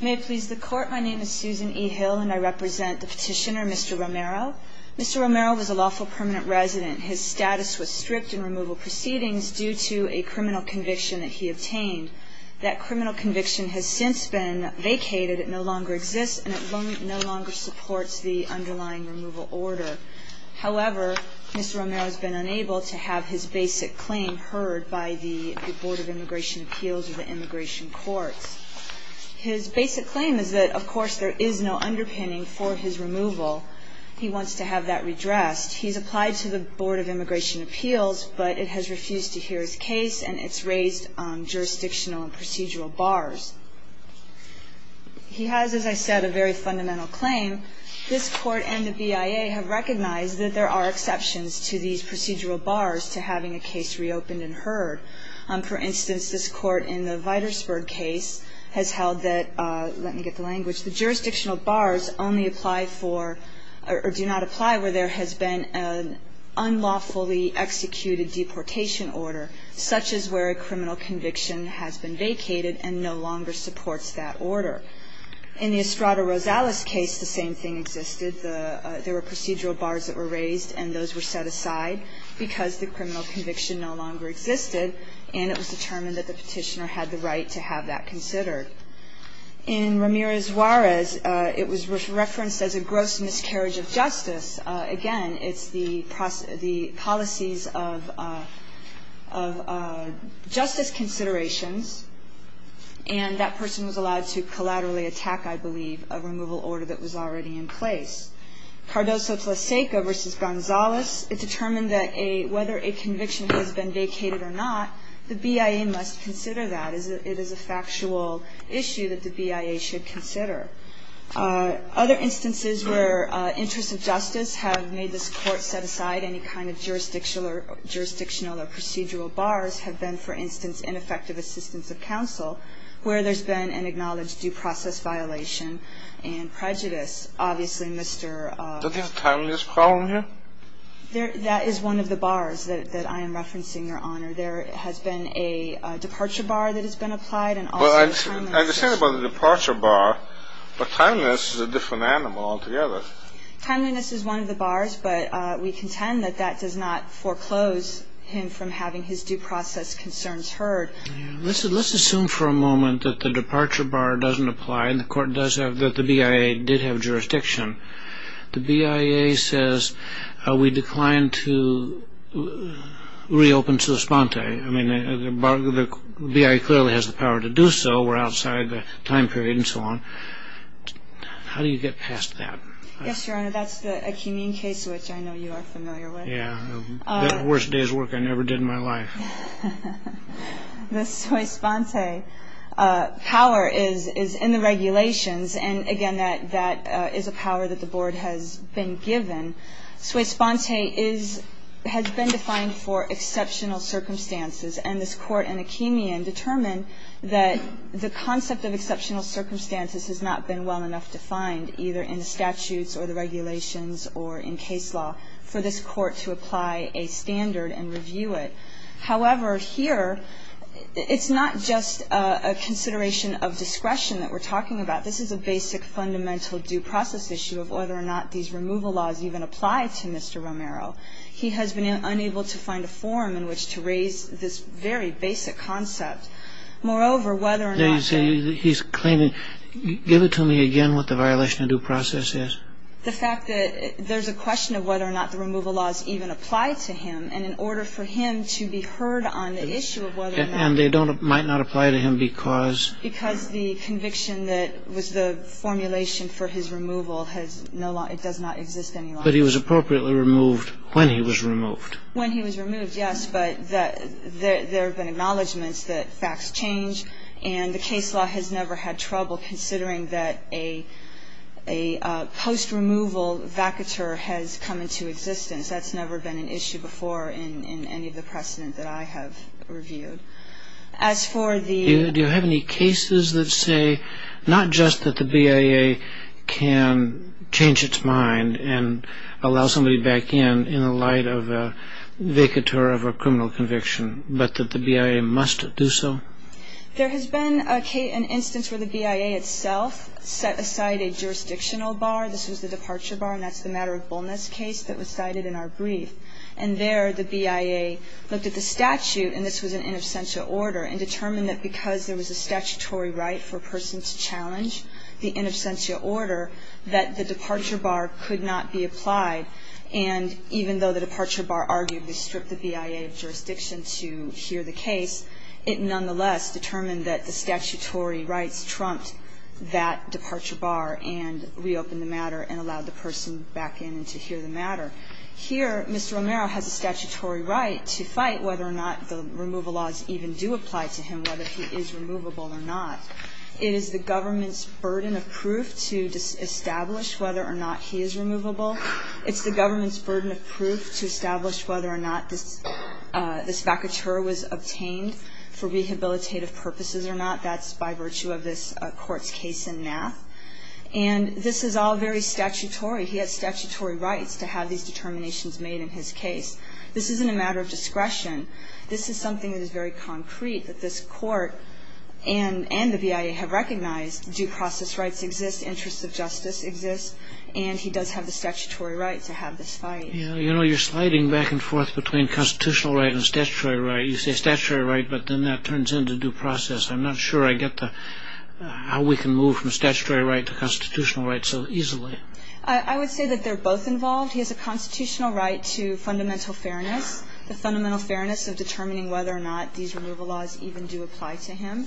May it please the Court, my name is Susan E. Hill and I represent the petitioner Mr. Romero. Mr. Romero was a lawful permanent resident. His status was strict in removal proceedings due to a criminal conviction that he obtained. That criminal conviction has since been vacated. It no longer exists and it no longer supports the underlying removal order. However, Mr. Romero has been unable to have his basic claim heard by the Board of Immigration Appeals or the Immigration Courts. His basic claim is that, of course, there is no underpinning for his removal. He wants to have that redressed. He's applied to the Board of Immigration Appeals but it has refused to hear his case and it's raised on jurisdictional and procedural bars. He has, as I said, a very fundamental claim. This Court and the BIA have recognized that there are exceptions to these procedural bars to having a case reopened and heard. For instance, this Court in the Vitersburg case has held that, let me get the language, the jurisdictional bars only apply for or do not apply where there has been an unlawfully executed deportation order, such as where a criminal conviction has been vacated and no longer supports that order. In the Estrada Rosales case, the same thing existed. There were procedural bars that were raised and those were set aside because the criminal conviction no longer existed and it was determined that the Petitioner had the right to have that considered. In Ramirez-Juarez, it was referenced as a gross miscarriage of justice. Again, it's the policies of justice considerations and that person was allowed to collaterally attack, I believe, a removal order that was already in place. Cardoso-Tlaseka v. Gonzalez, it determined that whether a conviction has been vacated or not, the BIA must consider that. It is a factual issue that the BIA should consider. Other instances where interests of justice have made this Court set aside any kind of jurisdictional or procedural bars have been, for instance, ineffective assistance of counsel, where there's been an acknowledged due process violation and prejudice. Obviously, Mr.… Do we have a timeliness problem here? That is one of the bars that I am referencing, Your Honor. There has been a departure bar that has been applied and also a timeliness issue. Well, I understand about the departure bar, but timeliness is a different animal altogether. Timeliness is one of the bars, but we contend that that does not foreclose him from having his due process concerns heard. Let's assume for a moment that the departure bar doesn't apply and the BIA did have jurisdiction. The BIA says, we decline to reopen Suspante. I mean, the BIA clearly has the power to do so. We're outside the time period and so on. How do you get past that? Yes, Your Honor, that's the Akeemian case, which I know you are familiar with. Yeah, the worst day's work I never did in my life. The Suespante power is in the regulations, and again, that is a power that the Board has been given. Suespante has been defined for exceptional circumstances, and this Court and Akeemian determined that the concept of exceptional circumstances has not been well enough defined, either in the statutes or the regulations or in case law, for this Court to apply a standard and review it. However, here, it's not just a consideration of discretion that we're talking about. This is a basic fundamental due process issue of whether or not these removal laws even apply to Mr. Romero. He has been unable to find a forum in which to raise this very basic concept. Moreover, whether or not they... You say he's claiming. Give it to me again what the violation of due process is. The fact that there's a question of whether or not the removal laws even apply to him, and in order for him to be heard on the issue of whether or not... And they don't, might not apply to him because... Because the conviction that was the formulation for his removal has no longer, it does not exist any longer. But he was appropriately removed when he was removed. When he was removed, yes, but there have been acknowledgments that facts change, and the case law has never had trouble considering that a post-removal vacatur has come into existence. That's never been an issue before in any of the precedent that I have reviewed. As for the... Do you have any cases that say not just that the BIA can change its mind and allow somebody back in in the light of a vacatur of a criminal conviction, but that the BIA must do so? There has been an instance where the BIA itself set aside a jurisdictional bar. This was the departure bar, and that's the matter of Bolnitz case that was cited in our brief. And there the BIA looked at the statute, and this was an in absentia order, and determined that because there was a statutory right for a person to challenge the in absentia order, that the departure bar could not be applied. And even though the departure bar argued they stripped the BIA of jurisdiction to hear the case, it nonetheless determined that the statutory rights trumped that departure bar and reopened the matter and allowed the person back in to hear the matter. Here, Mr. Romero has a statutory right to fight whether or not the removal laws even do apply to him, whether he is removable or not. It is the government's burden of proof to establish whether or not he is removable. It's the government's burden of proof to establish whether or not this vacatur was obtained for rehabilitative purposes or not. That's by virtue of this Court's case in Nath. And this is all very statutory. He has statutory rights to have these determinations made in his case. This isn't a matter of discretion. This is something that is very concrete that this Court and the BIA have recognized. Due process rights exist. Interests of justice exist. And he does have the statutory right to have this fight. You know, you're sliding back and forth between constitutional right and statutory right. You say statutory right, but then that turns into due process. I'm not sure I get how we can move from statutory right to constitutional right so easily. I would say that they're both involved. He has a constitutional right to fundamental fairness, the fundamental fairness of determining whether or not these removal laws even do apply to him.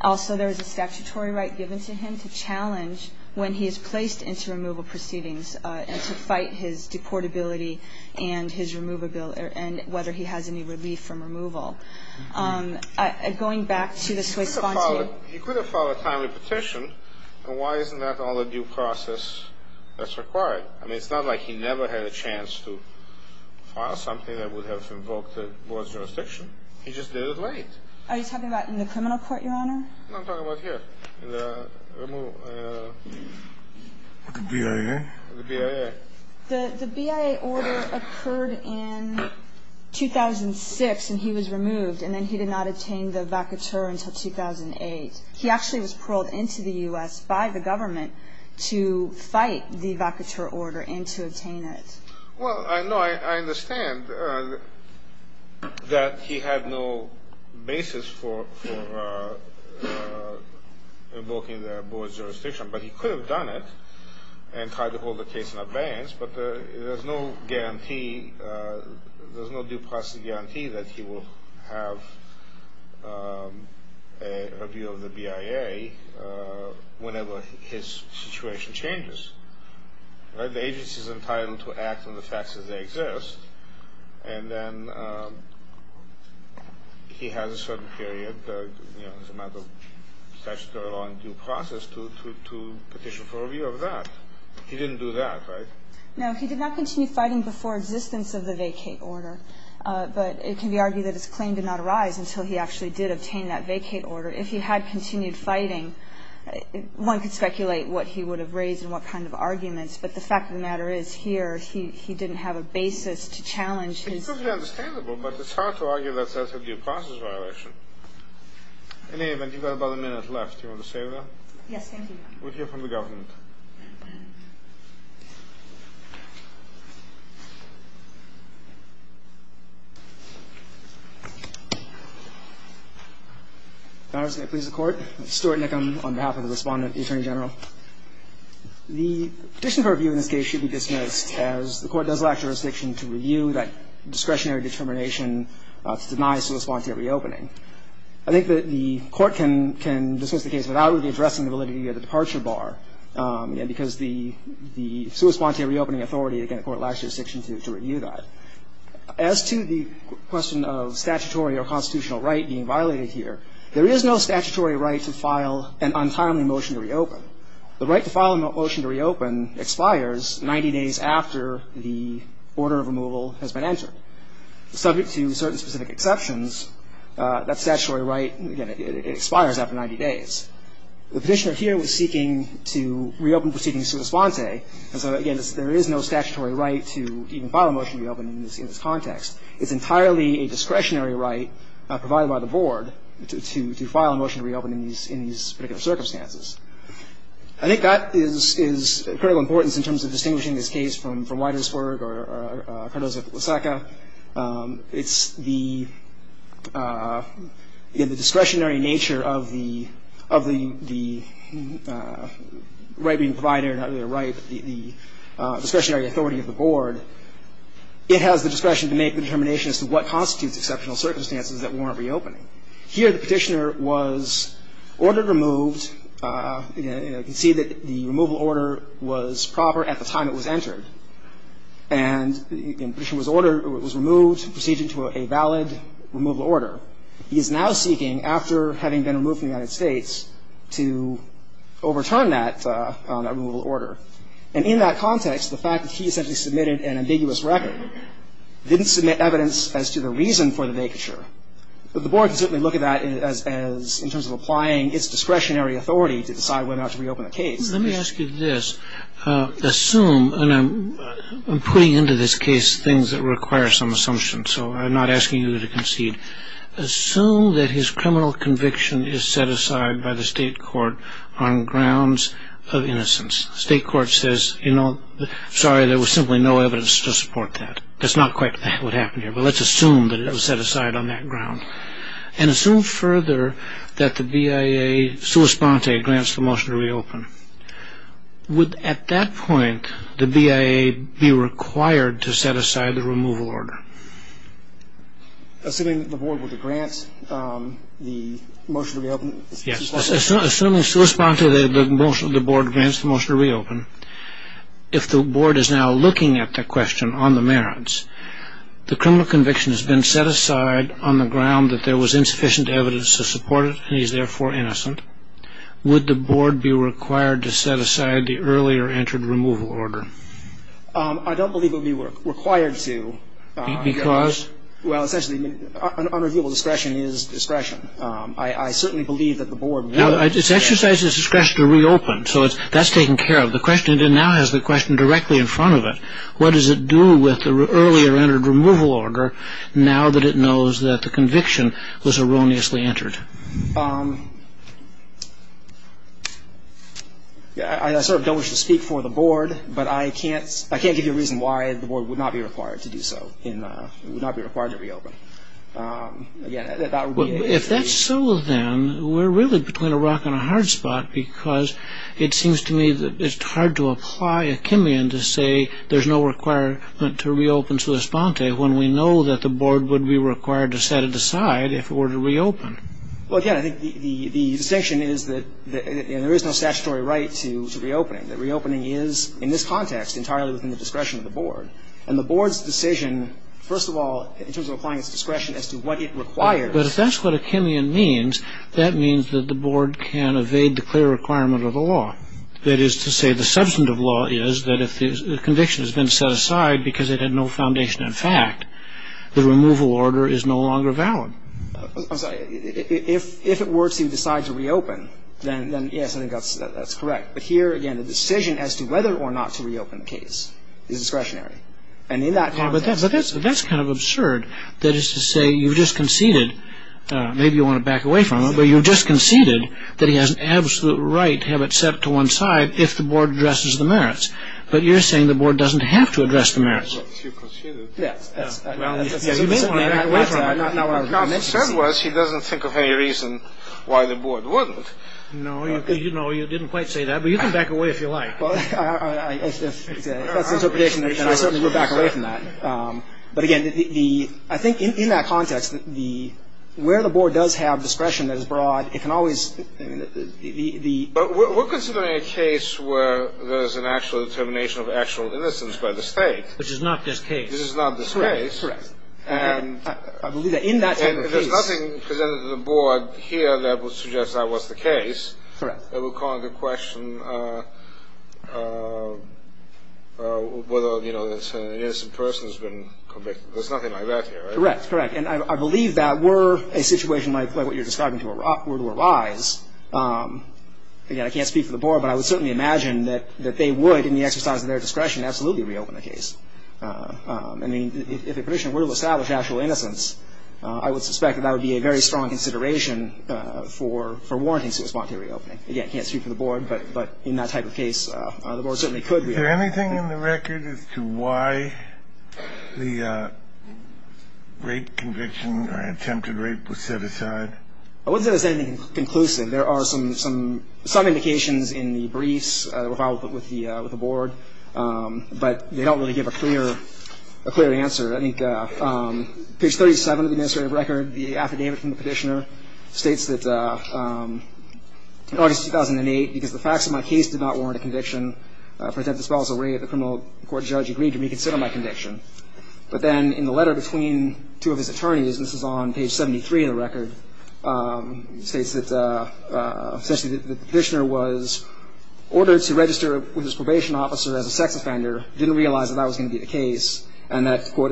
Also, there is a statutory right given to him to challenge when he is placed into removal proceedings and to fight his deportability and his removable or whether he has any relief from removal. Going back to the Swiss-Fonsi. He could have filed a timely petition. And why isn't that all a due process that's required? I mean, it's not like he never had a chance to file something that would have invoked the Board's jurisdiction. He just did it late. Are you talking about in the criminal court, Your Honor? No, I'm talking about here. The BIA. The BIA. The BIA order occurred in 2006, and he was removed. And then he did not attain the vacateur until 2008. He actually was paroled into the U.S. by the government to fight the vacateur order and to attain it. Well, no, I understand that he had no basis for invoking the Board's jurisdiction, but he could have done it and tried to hold the case in abeyance. But there's no guarantee. There's no due process guarantee that he will have a review of the BIA whenever his situation changes. The agency is entitled to act on the facts as they exist, and then he has a certain period, as a matter of statutory law and due process, to petition for a review of that. He didn't do that, right? No, he did not continue fighting before existence of the vacateur order. But it can be argued that his claim did not arise until he actually did obtain that vacateur order. If he had continued fighting, one could speculate what he would have raised and what kind of arguments. But the fact of the matter is, here, he didn't have a basis to challenge his view. It's perfectly understandable, but it's hard to argue that that's a due process violation. In any event, you've got about a minute left. Do you want to say that? Yes, thank you. We'll hear from the government. All right. If I may please the Court. I'm Stuart Nickham on behalf of the Respondent, the Attorney General. The petition for review in this case should be dismissed as the Court does lack jurisdiction to review that discretionary determination to deny soliciting a reopening. I think that the Court can dismiss the case without really addressing the validity of the departure bar because the sui sponte reopening authority, again, the Court lacks jurisdiction to review that. As to the question of statutory or constitutional right being violated here, there is no statutory right to file an untimely motion to reopen. The right to file a motion to reopen expires 90 days after the order of removal has been entered. Subject to certain specific exceptions, that statutory right, again, it expires after 90 days. The petitioner here was seeking to reopen proceedings sui sponte. And so, again, there is no statutory right to even file a motion to reopen in this context. It's entirely a discretionary right provided by the Board to file a motion to reopen in these particular circumstances. I think that is of critical importance in terms of distinguishing this case from Widersburg or Cardozo-Lusaka. It's the discretionary nature of the right being provided, not really a right, but the discretionary authority of the Board. It has the discretion to make the determination as to what constitutes exceptional circumstances that warrant reopening. Here, the petitioner was ordered removed. You can see that the removal order was proper at the time it was entered. And the petitioner was ordered or was removed to proceed to a valid removal order. He is now seeking, after having been removed from the United States, to overturn that removal order. And in that context, the fact that he essentially submitted an ambiguous record didn't submit evidence as to the reason for the vacature. The Board can certainly look at that as in terms of applying its discretionary authority to decide whether or not to reopen the case. Let me ask you this. Assume, and I'm putting into this case things that require some assumption, so I'm not asking you to concede. Assume that his criminal conviction is set aside by the state court on grounds of innocence. State court says, sorry, there was simply no evidence to support that. That's not quite what happened here. But let's assume that it was set aside on that ground. And assume further that the BIA sua sponte grants the motion to reopen. Would, at that point, the BIA be required to set aside the removal order? Assuming that the Board would grant the motion to reopen. Yes. Assuming sua sponte that the Board grants the motion to reopen, if the Board is now looking at the question on the merits, the criminal conviction has been set aside on the ground that there was insufficient evidence to support it, and he's therefore innocent. Would the Board be required to set aside the earlier entered removal order? I don't believe it would be required to. Because? Well, essentially, unreviewable discretion is discretion. I certainly believe that the Board would. Now, it's exercised its discretion to reopen. So that's taken care of. The question now has the question directly in front of it. What does it do with the earlier entered removal order, now that it knows that the conviction was erroneously entered? I sort of don't wish to speak for the Board, but I can't give you a reason why the Board would not be required to do so. It would not be required to reopen. If that's so, then, we're really between a rock and a hard spot. Because it seems to me that it's hard to apply a chemion to say there's no requirement to reopen to esponte when we know that the Board would be required to set it aside if it were to reopen. Well, again, I think the distinction is that there is no statutory right to reopening. The reopening is, in this context, entirely within the discretion of the Board. And the Board's decision, first of all, in terms of applying its discretion as to what it requires. But if that's what a chemion means, that means that the Board can evade the clear requirement of the law. That is to say, the substantive law is that if the conviction has been set aside because it had no foundation in fact, the removal order is no longer valid. I'm sorry. If it were to decide to reopen, then, yes, I think that's correct. But here, again, the decision as to whether or not to reopen the case is discretionary. And in that context... But that's kind of absurd. That is to say, you just conceded, maybe you want to back away from it, but you just conceded that he has an absolute right to have it set to one side if the Board addresses the merits. But you're saying the Board doesn't have to address the merits. Yes. Well, you may want to back away from it. My concern was he doesn't think of any reason why the Board wouldn't. No, you know, you didn't quite say that. But you can back away if you like. Well, it's an interpretation that I certainly would back away from that. But, again, I think in that context, where the Board does have discretion that is broad, it can always... We're considering a case where there's an actual determination of actual innocence by the State. Which is not this case. Which is not this case. I believe that in that type of case... And there's nothing presented to the Board here that would suggest that was the case. Correct. I will call into question whether, you know, an innocent person has been convicted. There's nothing like that here, right? Correct. Correct. And I believe that were a situation like what you're describing were to arise, again, I can't speak for the Board, but I would certainly imagine that they would, in the exercise of their discretion, absolutely reopen the case. I mean, if a petition were to establish actual innocence, I would suspect that that would be a very strong consideration for warranting civil spawn to reopen it. Again, I can't speak for the Board, but in that type of case, the Board certainly could reopen it. Is there anything in the record as to why the rape conviction or attempted rape was set aside? I wouldn't say there's anything conclusive. There are some indications in the briefs that were filed with the Board, but they don't really give a clear answer. I think page 37 of the administrative record, the affidavit from the petitioner, states that in August 2008, because the facts of my case did not warrant a conviction for attempted spousal rape, the criminal court judge agreed to reconsider my conviction. But then in the letter between two of his attorneys, and this is on page 73 of the record, states that essentially the petitioner was ordered to register with his probation officer as a sex offender, didn't realize that that was going to be the case, and that, quote,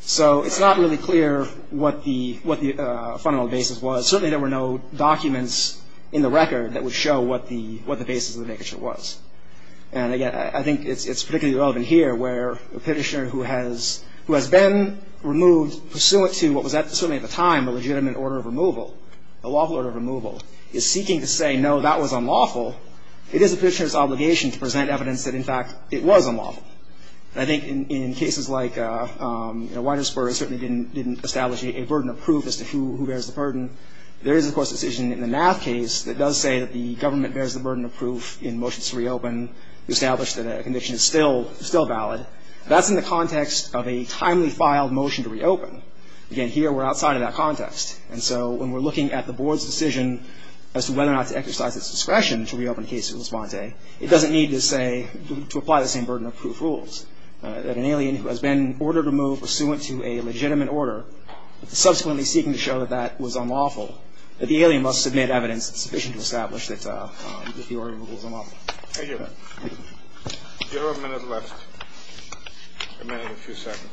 So it's not really clear what the fundamental basis was. Certainly there were no documents in the record that would show what the basis of the vacation was. And again, I think it's particularly relevant here where a petitioner who has been removed pursuant to what was certainly at the time a legitimate order of removal, a lawful order of removal, is seeking to say, no, that was unlawful, it is the petitioner's obligation to present evidence that, in fact, it was unlawful. And I think in cases like, you know, Winersburg certainly didn't establish a burden of proof as to who bears the burden. There is, of course, a decision in the MAF case that does say that the government bears the burden of proof in motions to reopen to establish that a conviction is still valid. That's in the context of a timely filed motion to reopen. Again, here we're outside of that context. And so when we're looking at the board's decision as to whether or not to exercise its discretion to reopen the case of Lisbonte, it doesn't need to say, to apply the same burden of proof rules. That an alien who has been ordered to move pursuant to a legitimate order, subsequently seeking to show that that was unlawful, that the alien must submit evidence sufficient to establish that the order of removal is unlawful. Thank you. Zero minutes left. A minute and a few seconds.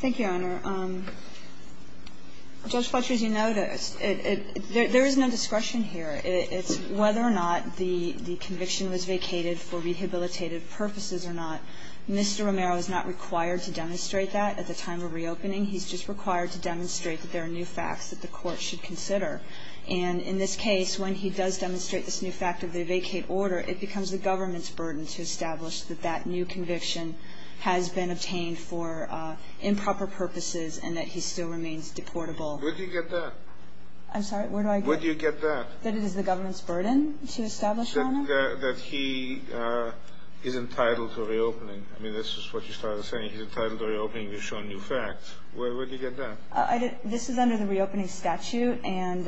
Thank you, Your Honor. Judge Fletcher, as you noticed, there is no discretion here. It's whether or not the conviction was vacated for rehabilitative purposes or not. Mr. Romero is not required to demonstrate that at the time of reopening. He's just required to demonstrate that there are new facts that the Court should consider. And in this case, when he does demonstrate this new fact of the vacate order, it becomes the government's burden to establish that that new conviction has been obtained for improper purposes and that he still remains deportable. Where do you get that? I'm sorry? Where do I get that? Where do you get that? That it is the government's burden to establish, Your Honor? That he is entitled to reopening. I mean, this is what you started saying. He's entitled to reopening to show new facts. Where do you get that? This is under the reopening statute. And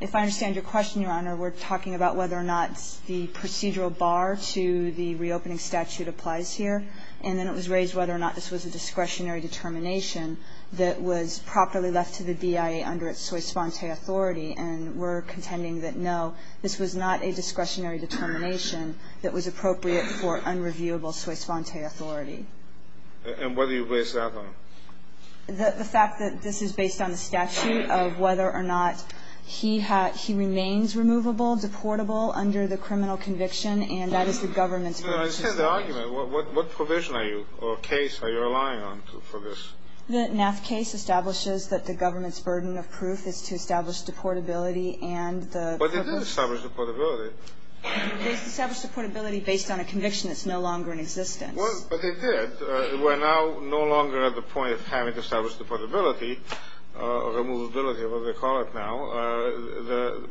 if I understand your question, Your Honor, we're talking about whether or not the procedural bar to the reopening statute applies here. And then it was raised whether or not this was a discretionary determination that was properly left to the BIA under its soixante authority. And we're contending that, no, this was not a discretionary determination that was appropriate for unreviewable soixante authority. And what do you base that on? The fact that this is based on the statute of whether or not he remains removable, deportable under the criminal conviction, and that is the government's burden to establish. No, I understand the argument. What provision are you or case are you relying on for this? The NAAF case establishes that the government's burden of proof is to establish deportability and the ---- But they did establish deportability. They established deportability based on a conviction that's no longer in existence. Well, but they did. And we're now no longer at the point of having to establish deportability or removability, whatever they call it now.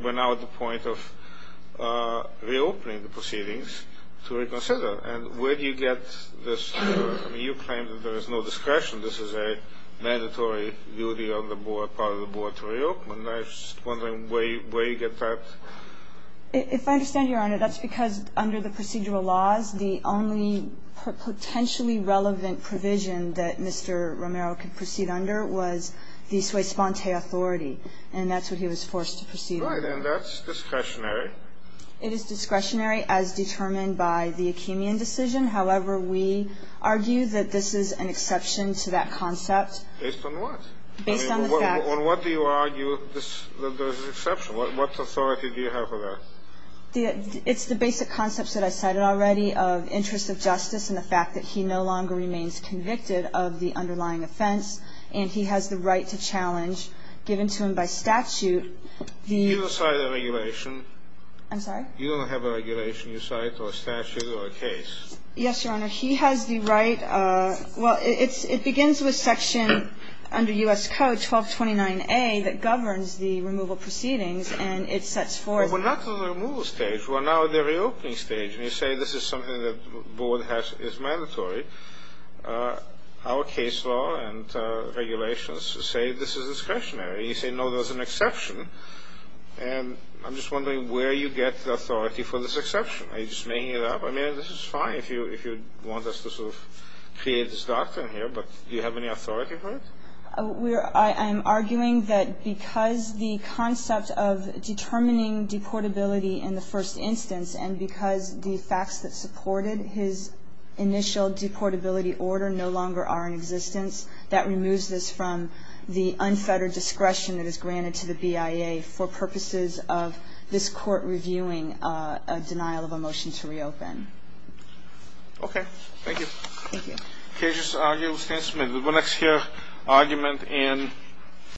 We're now at the point of reopening the proceedings to reconsider. And where do you get this? I mean, you claim that there is no discretion. This is a mandatory duty on the board, part of the board, to reopen. I'm just wondering where you get that. If I understand Your Honor, that's because under the procedural laws, the only potentially relevant provision that Mr. Romero could proceed under was the sui sponte authority. And that's what he was forced to proceed under. Right. And that's discretionary. It is discretionary as determined by the Achemian decision. However, we argue that this is an exception to that concept. Based on what? Based on the fact that ---- On what do you argue that there's an exception? What authority do you have for that? It's the basic concepts that I cited already of interest of justice and the fact that he no longer remains convicted of the underlying offense. And he has the right to challenge, given to him by statute, the ---- You don't cite a regulation. I'm sorry? You don't have a regulation you cite or a statute or a case. Yes, Your Honor. He has the right. Well, it begins with section under U.S. Code 1229A that governs the removal proceedings. And it sets forth ---- Well, we're not in the removal stage. We're now in the reopening stage. And you say this is something that the board has is mandatory. Our case law and regulations say this is discretionary. You say, no, there's an exception. And I'm just wondering where you get the authority for this exception. Are you just making it up? I mean, this is fine if you want us to sort of create this doctrine here. But do you have any authority for it? I'm arguing that because the concept of determining deportability in the first instance and because the facts that supported his initial deportability order no longer are in existence, that removes this from the unfettered discretion that is granted to the BIA for purposes of this Court reviewing a denial of a motion to reopen. Okay. Thank you. Thank you. Thank you. Thank you. Thank you.